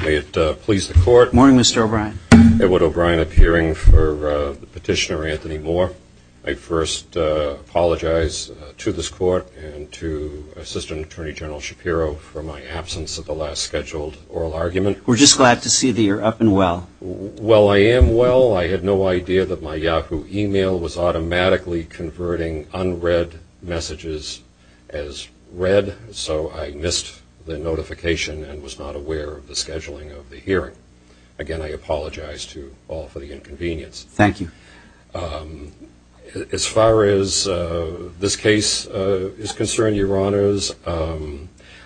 May it please the Court, Good morning, Mr. O'Brien. Edward O'Brien appearing for the petitioner, Anthony Moore. I first apologize to this Court and to Assistant Attorney General Shapiro for my absence at the last scheduled oral argument. We're just glad to see that you're up and well. Well, I am well. I had no idea that my Yahoo email was automatically converting unread messages as read, so I missed the notification and was not aware of the scheduling of the hearing. Again, I apologize to all for the inconvenience. Thank you. As far as this case is concerned, Your Honors,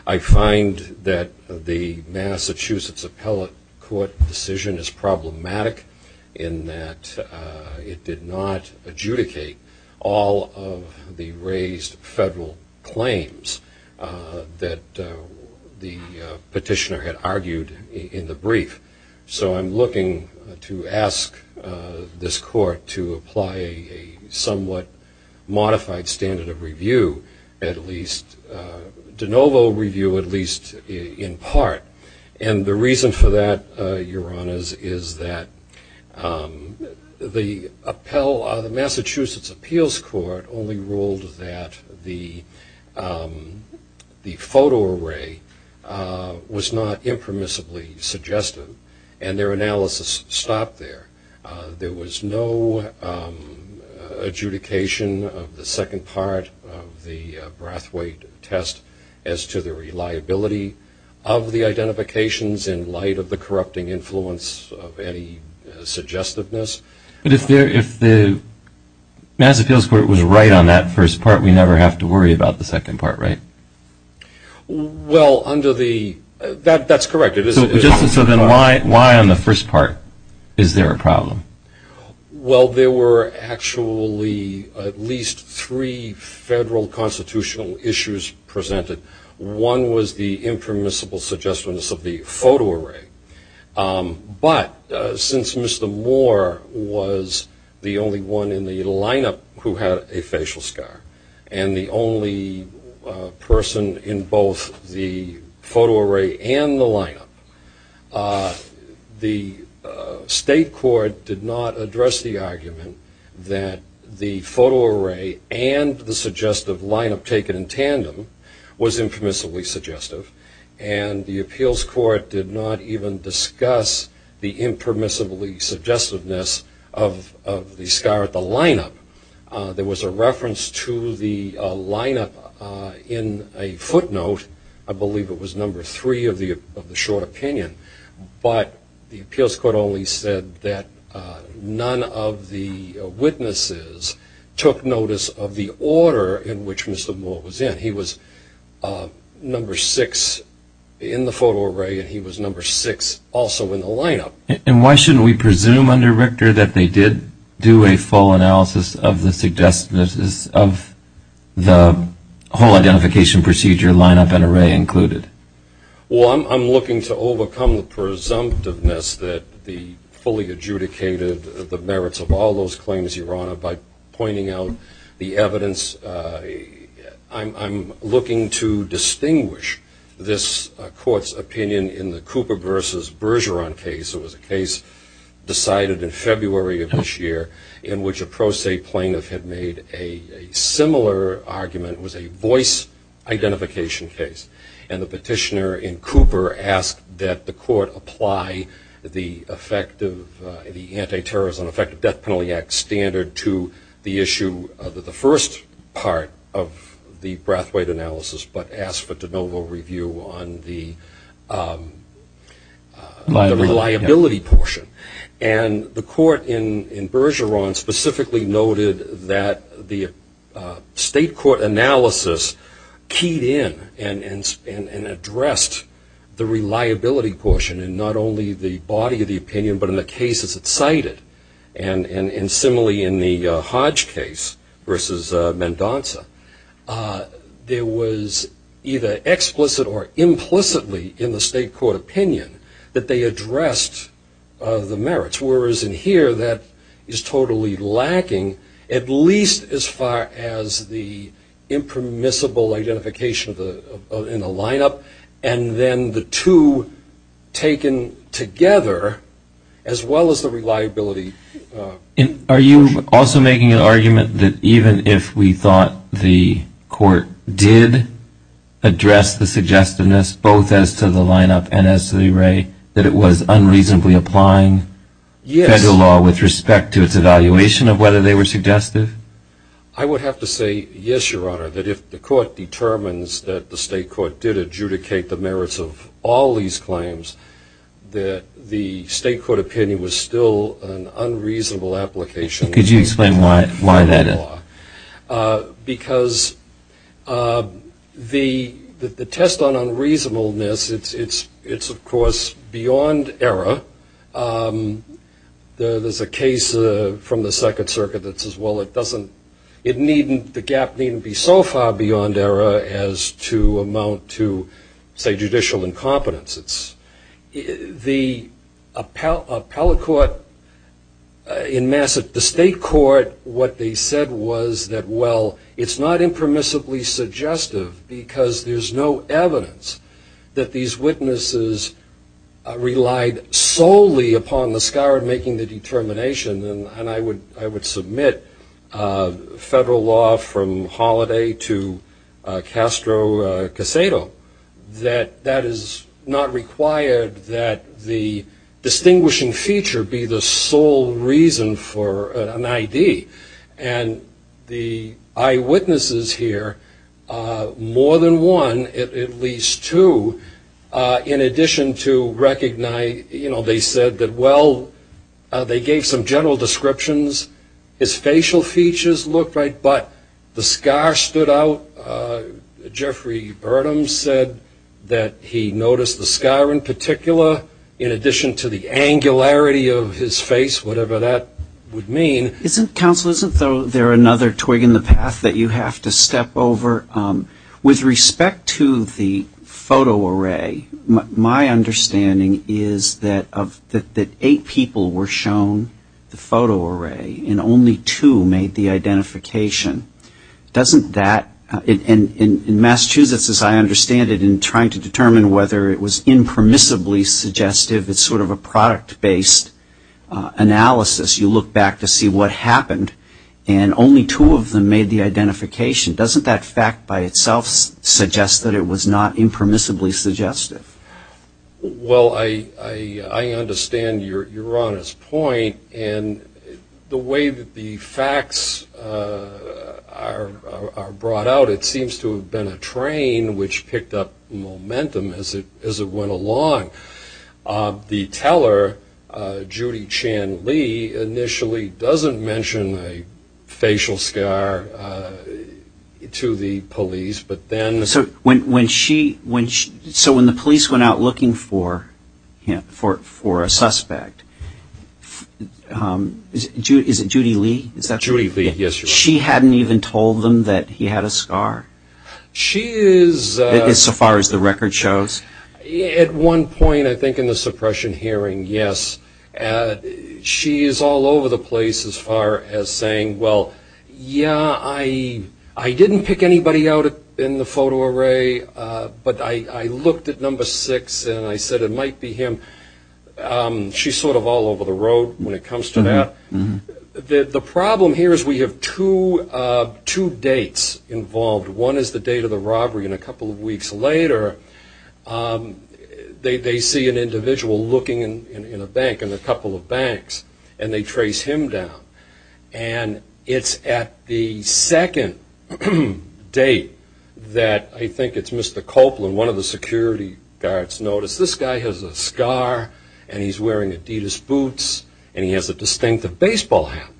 I find that the Massachusetts Appellate Court decision is problematic in that it did not adjudicate all of the raised federal claims that the petitioner had argued in the brief. So I'm looking to ask this Court to apply a somewhat modified standard of review, at least de novo review, at least in part. And the reason for that, Your Honors, is that the Massachusetts Appeals Court only ruled that the photo array was not impermissibly suggestive, and their analysis stopped there. There was no adjudication of the second part of the Brathwaite test as to the reliability of the identifications in light of the corrupting influence of any suggestiveness. But if the Massachusetts Appeals Court was right on that first part, we never have to worry about the second part, right? Well, under the... That's correct. So then why on the first part is there a problem? Well, there were actually at least three federal constitutional issues presented. One was the impermissible suggestiveness of the photo array. But since Mr. Moore was the only one in the lineup who had a facial scar, and the only person in both the photo array and the lineup, the state court did not address the argument that the photo array and the suggestive lineup taken in tandem was impermissibly suggestive. And the Appeals Court did not even discuss the impermissibly suggestiveness of the scar at the lineup. There was a reference to the lineup in a footnote. I believe it was number three of the short opinion. But the Appeals Court only said that none of the witnesses took notice of the order in which Mr. Moore was in. He was number six in the photo array, and he was number six also in the lineup. And why shouldn't we presume under Richter that they did do a full analysis of the suggestiveness of the whole identification procedure, lineup, and array included? Well, I'm looking to overcome the presumptiveness that the fully adjudicated, the merits of all those claims, Your Honor, by pointing out the evidence. I'm looking to distinguish this court's opinion in the Cooper versus Bergeron case. It was a case decided in February of this year in which a pro se plaintiff had made a similar argument. It was a voice identification case. And the petitioner in Cooper asked that the court apply the anti-terrorism and effective death penalty act standard to the issue of the first part of the Brathwaite analysis, but asked for de novo review on the reliability portion. And the court in Bergeron specifically noted that the state court analysis keyed in and addressed the reliability portion in not only the body of the opinion, but in the cases it cited. And similarly in the Hodge case versus Mendonca, there was either explicit or implicitly in the state court opinion that they addressed the merits, whereas in here that is totally lacking, at least as far as the impermissible identification in the lineup and then the two taken together, as well as the reliability portion. Are you also making an argument that even if we thought the court did address the suggestiveness both as to the lineup and as to the array, that it was unreasonably applying federal law with respect to its evaluation of whether they were suggestive? I would have to say yes, Your Honor, that if the court determines that the state court did adjudicate the merits of all these claims, that the state court opinion was still an unreasonable application of federal law. Could you explain why that is? Because the test on unreasonableness, it's of course beyond error. There's a case from the Second Circuit that says, well, the gap needn't be so far beyond error as to amount to, say, judicial incompetence. The appellate court in Massachusetts, the state court, what they said was that, well, it's not impermissibly suggestive because there's no evidence that these witnesses relied solely upon the scourge making the determination, and I would submit federal law from Holliday to Castro-Casado, that that is not required that the distinguishing feature be the sole reason for an I.D., and the eyewitnesses here, more than one, at least two, in addition to recognize, you know, they said that, well, they gave some general descriptions, his facial mask stood out, Jeffrey Burnham said that he noticed the scar in particular, in addition to the angularity of his face, whatever that would mean. Counsel, isn't there another twig in the path that you have to step over? With respect to the photo array, my understanding is that eight people were shown the photo identification, doesn't that, in Massachusetts, as I understand it, in trying to determine whether it was impermissibly suggestive, it's sort of a product-based analysis, you look back to see what happened, and only two of them made the identification, doesn't that fact by itself suggest that it was not impermissibly suggestive? Well, I understand your honest point, and the way that the facts are brought out, it seems to have been a train which picked up momentum as it went along. The teller, Judy Chan Lee, initially doesn't mention a facial scar to the police, but then So when the police went out looking for a suspect, is it Judy Lee? Judy Lee, yes. She hadn't even told them that he had a scar? She is... So far as the record shows? At one point, I think in the suppression hearing, yes. She is all over the place as far as saying, well, yeah, I didn't pick anybody out in the photo array, but I looked at number six, and I said it might be him. She's sort of all over the road when it comes to that. The problem here is we have two dates involved. One is the date of the robbery, and a couple of weeks later, they see an individual looking in a bank, in a couple of banks, and they trace him down. And it's at the second date that I think it's Mr. Copeland, one of the security guards, noticed this guy has a scar, and he's wearing Adidas boots, and he has a distinctive baseball hat.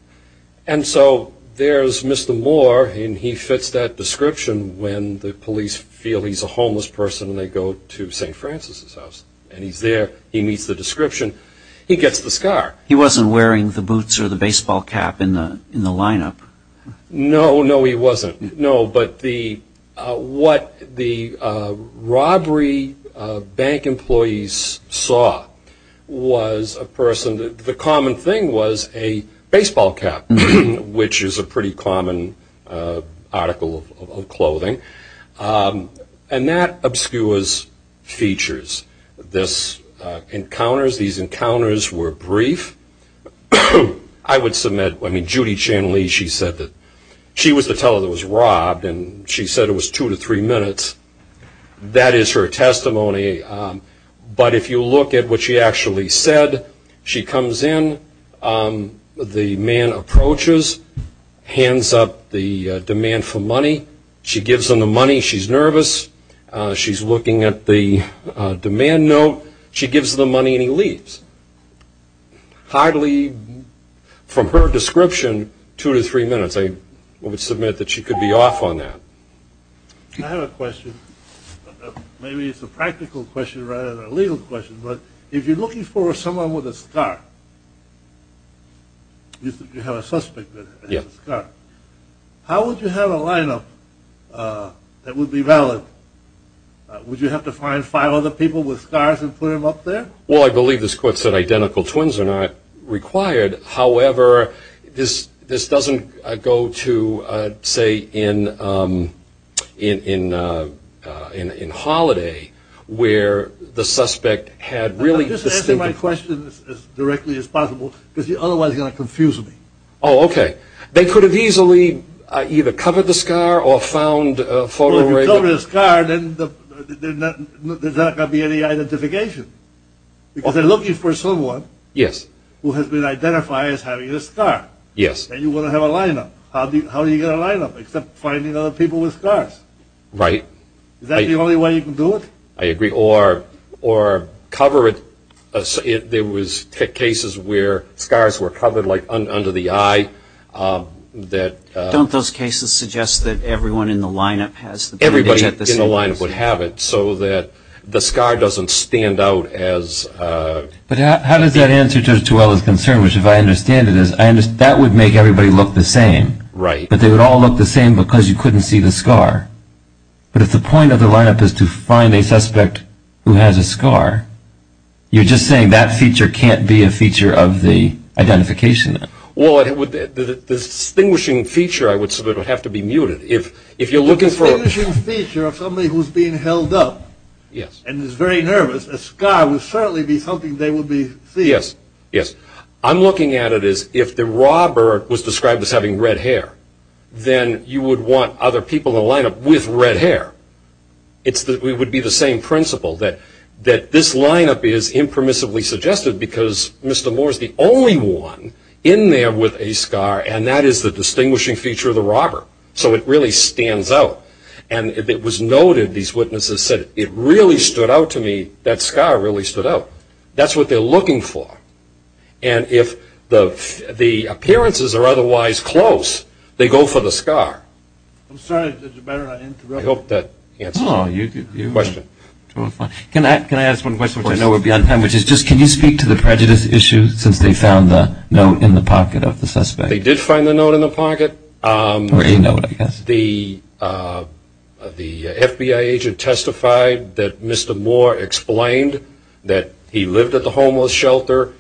And so there's Mr. Moore, and he fits that description when the police feel he's a homeless person and they go to St. Francis' house, and he's there, he meets the description, he gets the scar. He wasn't wearing the boots or the baseball cap in the lineup? No, no, he wasn't. No, but what the robbery bank employees saw was a person, the common thing was a baseball cap, which is a pretty common article of clothing, and that obscures features. These encounters were brief. I would submit, Judy Chan Lee, she said that she was the teller that was robbed, and she said it was two to three minutes. That is her testimony, but if you look at what she actually said, she comes in, the man approaches, hands up the demand for money, she gives him the money, she's nervous, she's looking at the demand note, she gives the money and he leaves. Hardly, from her description, two to three minutes. I would submit that she could be off on that. I have a question, maybe it's a practical question rather than a legal question, but if you're looking for someone with a scar, if you have a suspect that has a scar, how would you have a lineup that would be valid? Would you have to find five other people with scars and put them up there? Well, I believe this court said identical twins are not required, however, this doesn't go to, say, in Holiday, where the suspect had really... I'm just asking my question as directly as possible, because otherwise you're going to confuse me. Oh, okay. They could have easily either covered the scar or found a photo... Well, if you cover the scar, there's not going to be any identification. Because they're looking for someone who has been identified as having a scar. Yes. And you want to have a lineup. How do you get a lineup except finding other people with scars? Right. Is that the only way you can do it? I agree. Or cover it... There was cases where scars were covered, like under the eye. Don't those cases suggest that everyone in the lineup has the bandage? Everybody in the lineup would have it, so that the scar doesn't stand out as... But how does that answer Judge Duell's concern, which if I understand it, that would make everybody look the same. Right. But they would all look the same because you couldn't see the scar. But if the point of the lineup is to find a suspect who has a scar, you're just saying that feature can't be a feature of the identification. Well, the distinguishing feature, I would say, would have to be muted. If you're looking for... The distinguishing feature of somebody who's being held up and is very nervous, a scar would certainly be something they would be seeing. Yes. Yes. I'm looking at it as if the robber was described as having red hair, then you would want other people in the lineup with red hair. It would be the same principle that this lineup is impermissibly suggested because Mr. Moore is the only one in there with a scar, and that is the distinguishing feature of the robber. So it really stands out. And it was noted, these witnesses said, it really stood out to me, that scar really stood out. That's what they're looking for. And if the appearances are otherwise close, they go for the scar. I'm sorry. It's better not interrupt. I hope that answers your question. Can I ask one question, which I know we'll be on time, which is just, can you speak to the prejudice issue since they found the note in the pocket of the suspect? They did find the note in the pocket. Where's the note? The FBI agent testified that Mr. Moore explained that he lived at the homeless shelter.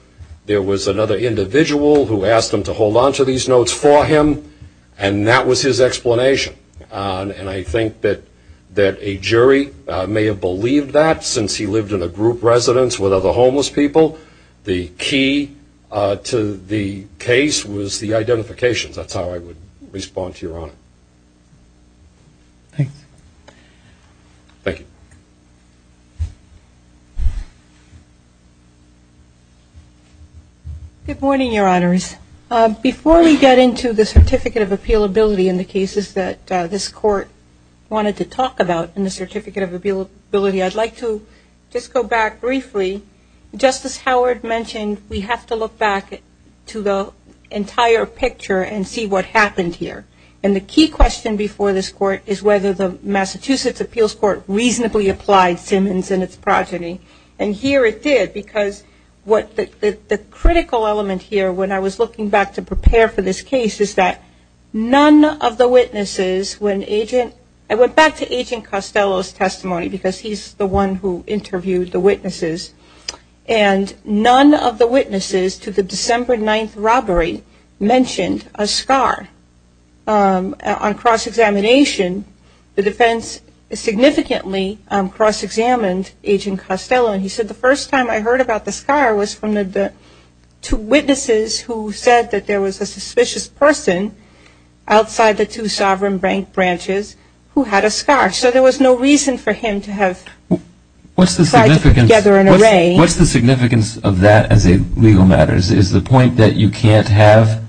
There was another individual who asked him to hold onto these notes for him, and that was his explanation. And I think that a jury may have believed that, since he lived in a group residence with other homeless people. The key to the case was the identification. That's how I would respond to Your Honor. Thanks. Thank you. Good morning, Your Honors. Before we get into the Certificate of Appealability in the cases that this Court wanted to talk about in the Certificate of Appealability, I'd like to just go back briefly. Justice Howard mentioned we have to look back to the entire picture and see what happened here. And the key question before this Court is whether the Massachusetts Appeals Court reasonably applied Simmons and its progeny. And here it did, because what the critical element here, when I was looking back to prepare for this case, is that none of the witnesses, when agent, I went back to Agent Costello's testimony, because he's the one who interviewed the witnesses. And none of the witnesses to the December 9th robbery mentioned a scar. On cross-examination, the defense significantly cross-examined Agent Costello. And he said, the first time I heard about the scar was from the two witnesses who said that there was a suspicious person outside the two sovereign branches who had a scar. So there was no reason for him to have tied together an array. What's the significance of that as a legal matter? Is the point that you can't have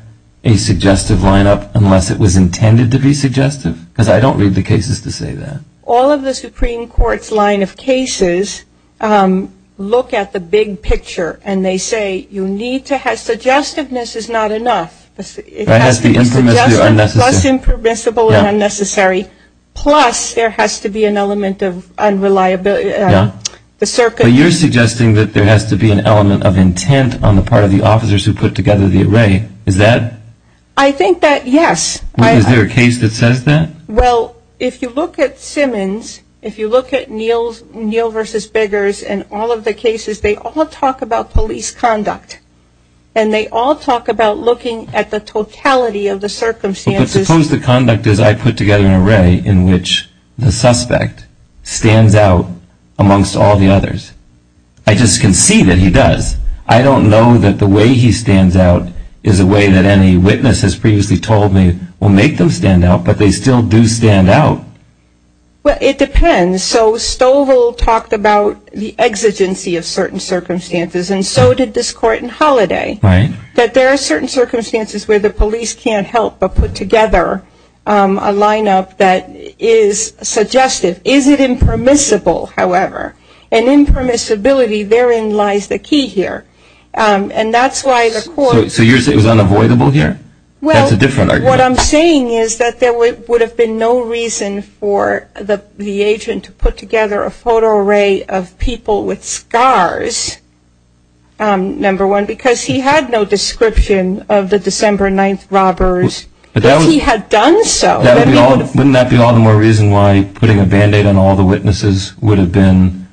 a suggestive lineup unless it was intended to be suggestive? Because I don't read the cases to say that. All of the Supreme Court's line of cases look at the big picture and they say you need to have, suggestiveness is not enough. It has to be suggestive plus impermissible and unnecessary, plus there has to be an element of unreliability. But you're suggesting that there has to be an element of intent on the part of the officers who put together the array. Is that? I think that, yes. Is there a case that says that? Well, if you look at Simmons, if you look at Neal versus Biggers and all of the cases, they all talk about police conduct. And they all talk about looking at the totality of the circumstances. But suppose the conduct is I put together an array in which the suspect stands out amongst all the others. I just can see that he does. I don't know that the way he stands out is a way that any witness has previously told me will make them stand out. But they still do stand out. Well, it depends. So Stovall talked about the exigency of certain circumstances and so did this court in Holliday. Right. But there are certain circumstances where the police can't help but put together a lineup that is suggestive. Is it impermissible, however? And impermissibility, therein lies the key here. And that's why the court So you're saying it was unavoidable here? Well That's a different argument. What I'm saying is that there would have been no reason for the agent to put together a photo array of people with scars, number one, because he had no description of the December 9th robbers if he had done so. Wouldn't that be all the more reason why putting a band-aid on all the witnesses would have been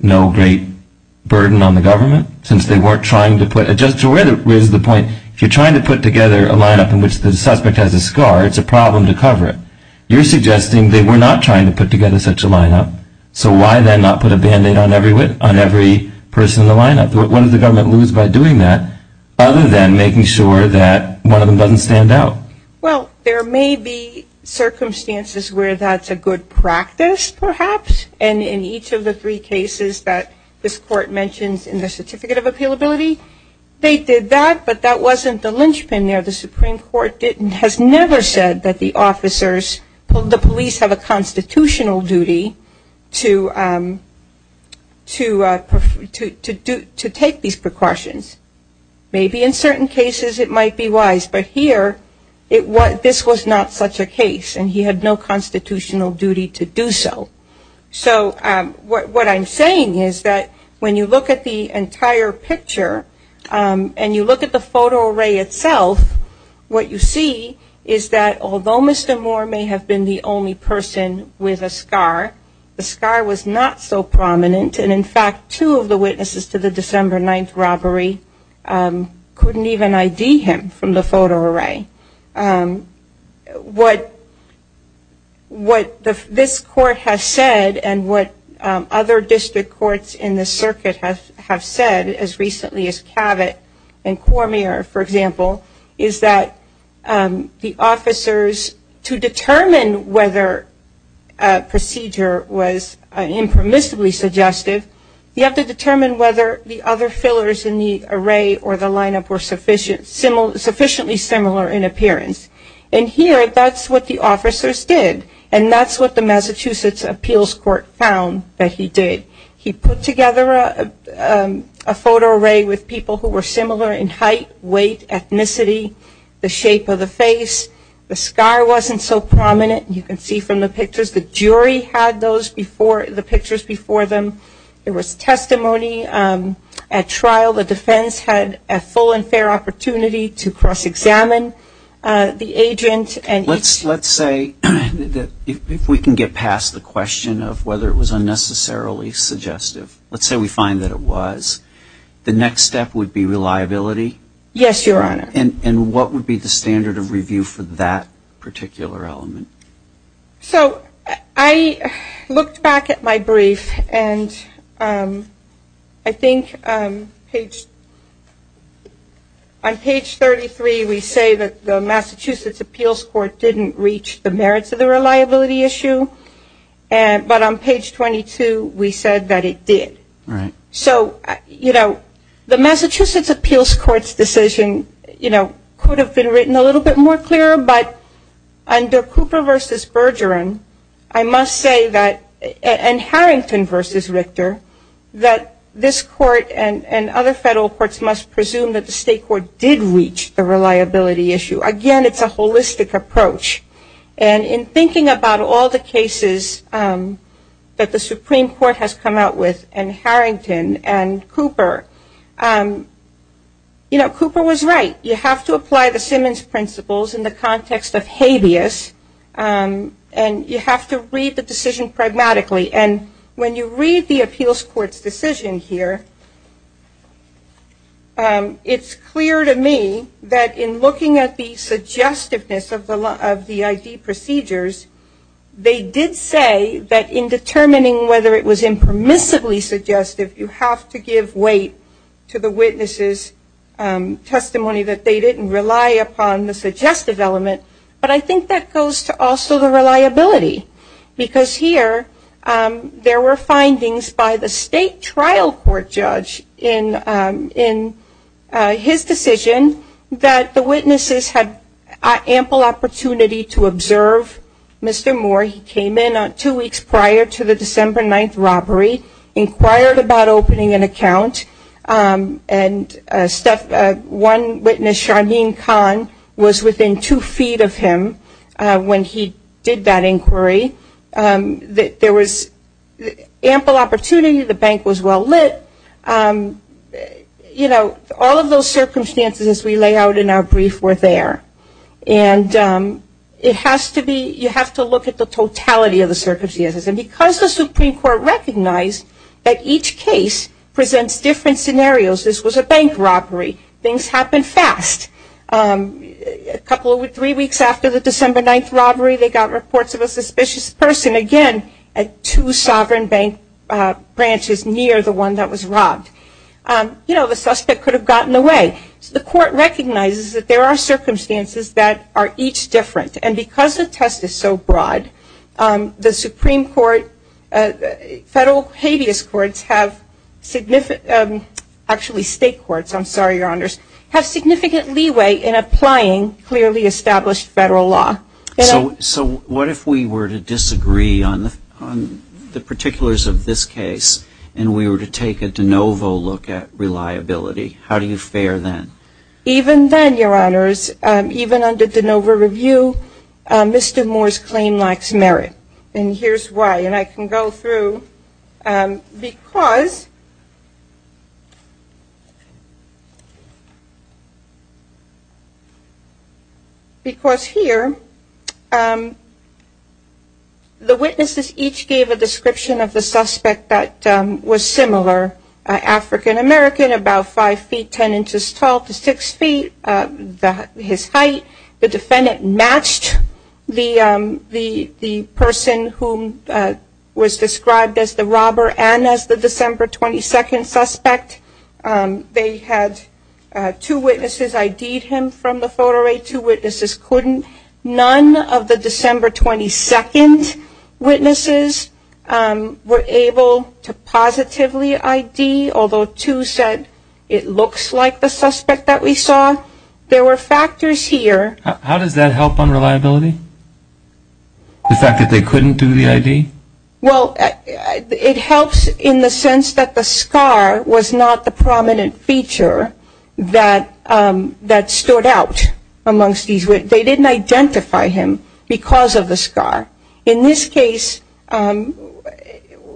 no great burden on the government since they weren't trying to put, just to raise the point, if you're trying to put together a lineup in which the suspect has a scar, it's a problem to cover it. You're suggesting they were not trying to put together such a lineup, so why would the government lose by doing that other than making sure that one of them doesn't stand out? Well, there may be circumstances where that's a good practice, perhaps, and in each of the three cases that this court mentions in the Certificate of Appealability, they did that, but that wasn't the linchpin there. The Supreme Court has never said that the officers, the police, have a duty to take these precautions. Maybe in certain cases it might be wise, but here this was not such a case and he had no constitutional duty to do so. So what I'm saying is that when you look at the entire picture and you look at the photo array itself, what you see is that although Mr. Moore may have been the only person with a scar, the scar was not so prominent, and in fact two of the witnesses to the December 9th robbery couldn't even ID him from the photo array. What this court has said and what other district courts in the circuit have said, as recently as Cavett and Cormier, for example, is that the officers to determine whether a procedure was impermissibly suggestive, you have to determine whether the other fillers in the array or the lineup were sufficiently similar in appearance. And here that's what the officers did and that's what the Massachusetts Appeals Court found that he did. He put together a photo array with people who were similar in height, weight, ethnicity, the shape of the face. The scar wasn't so prominent. You can see from the pictures the jury had the pictures before them. There was testimony at trial. The defense had a full and fair opportunity to cross-examine the agent. Let's say that if we can get past the question of whether it was unnecessarily suggestive, let's say we find that it was, the next step would be reliability? Yes, Your Honor. And what would be the standard of review for that particular element? So I looked back at my brief and I think on page 33 we say that the Massachusetts Appeals Court didn't reach the merits of the reliability issue, but on page 22 we said that it did. Right. So, you know, the Massachusetts Appeals Court's decision, you know, could have been written a little bit more clearer, but under Cooper v. Bergeron, I must say that, and Harrington v. Richter, that this court and other federal courts must presume that the state court did reach the reliability issue. Again, it's a holistic approach. And in thinking about all the cases that the Supreme Court has come out with and Harrington and Cooper, you know, Cooper was right. You have to apply the Simmons principles in the context of habeas and you have to read the decision pragmatically. And when you read the Appeals Court's decision here, it's clear to me that in looking at the suggestiveness of the ID procedures, they did say that in determining whether it was impermissibly suggestive, you have to give weight to the witnesses' testimony that they didn't rely upon the suggestive element. But I think that goes to also the reliability, because here there were findings by the state trial court judge in his decision that the witnesses had ample opportunity to observe Mr. Moore. He came in two weeks prior to the December 9th robbery, inquired about opening an account, and one witness, Sharmeen Khan, was within two feet of him when he did that inquiry. There was ample opportunity. The bank was well lit. You know, all of those circumstances as we lay out in our brief were there. And it has to be, you have to look at the totality of the circumstances. And because the Supreme Court recognized that each case presents different scenarios, this was a bank robbery. Things happen fast. A couple, three weeks after the December 9th robbery, they got reports of a suspicious person, again, at two sovereign bank branches near the one that was robbed. You know, the suspect could have gotten away. So the court recognizes that there are circumstances that are each different. And because the test is so broad, the Supreme Court, federal habeas courts have, actually state courts, I'm sorry, Your Honors, have significant leeway in applying clearly established federal law. So what if we were to disagree on the particulars of this case and we were to take a de novo look at reliability? How do you fare then? Even then, Your Honors, even under de novo review, Mr. Moore's claim lacks merit. And here's why. And I can go through because here the witnesses each gave a description of the suspect that was similar, African American, about 5 feet, 10 inches tall to 6 feet, his height. The defendant matched the person who was described as the robber and as the December 22nd suspect. They had two witnesses ID'd him from the photo array, two witnesses couldn't. None of the December 22nd witnesses were able to positively ID, although two said it looks like the suspect that we saw. There were factors here. How does that help on reliability? The fact that they couldn't do the ID? Well, it helps in the sense that the scar was not the prominent They didn't ID the suspect. They didn't identify the suspect. They didn't identify him because of the scar. In this case,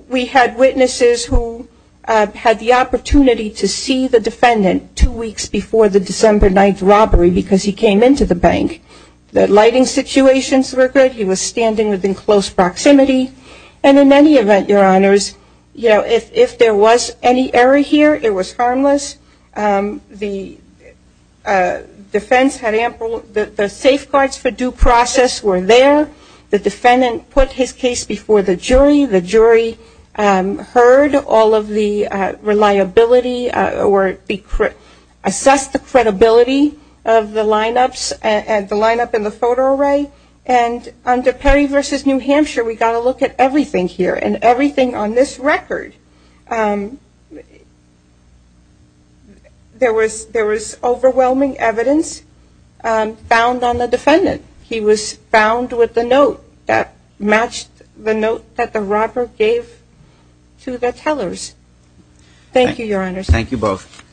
we had witnesses who had the opportunity to see the defendant two weeks before the December 9th robbery because he came into the bank. The lighting situations were good. He was standing within close proximity. And in any event, Your Honors, if there was any error here, it was harmless. The defense had ample, the safeguards for due process were there. The defendant put his case before the jury. The jury heard all of the reliability or assessed the credibility of the lineups and the lineup in the photo array. And under Perry v. New Hampshire, we got a look at everything here and everything on this record. There was overwhelming evidence found on the defendant. He was found with a note that matched the note that the robber gave to the tellers. Thank you, Your Honors. Thank you both.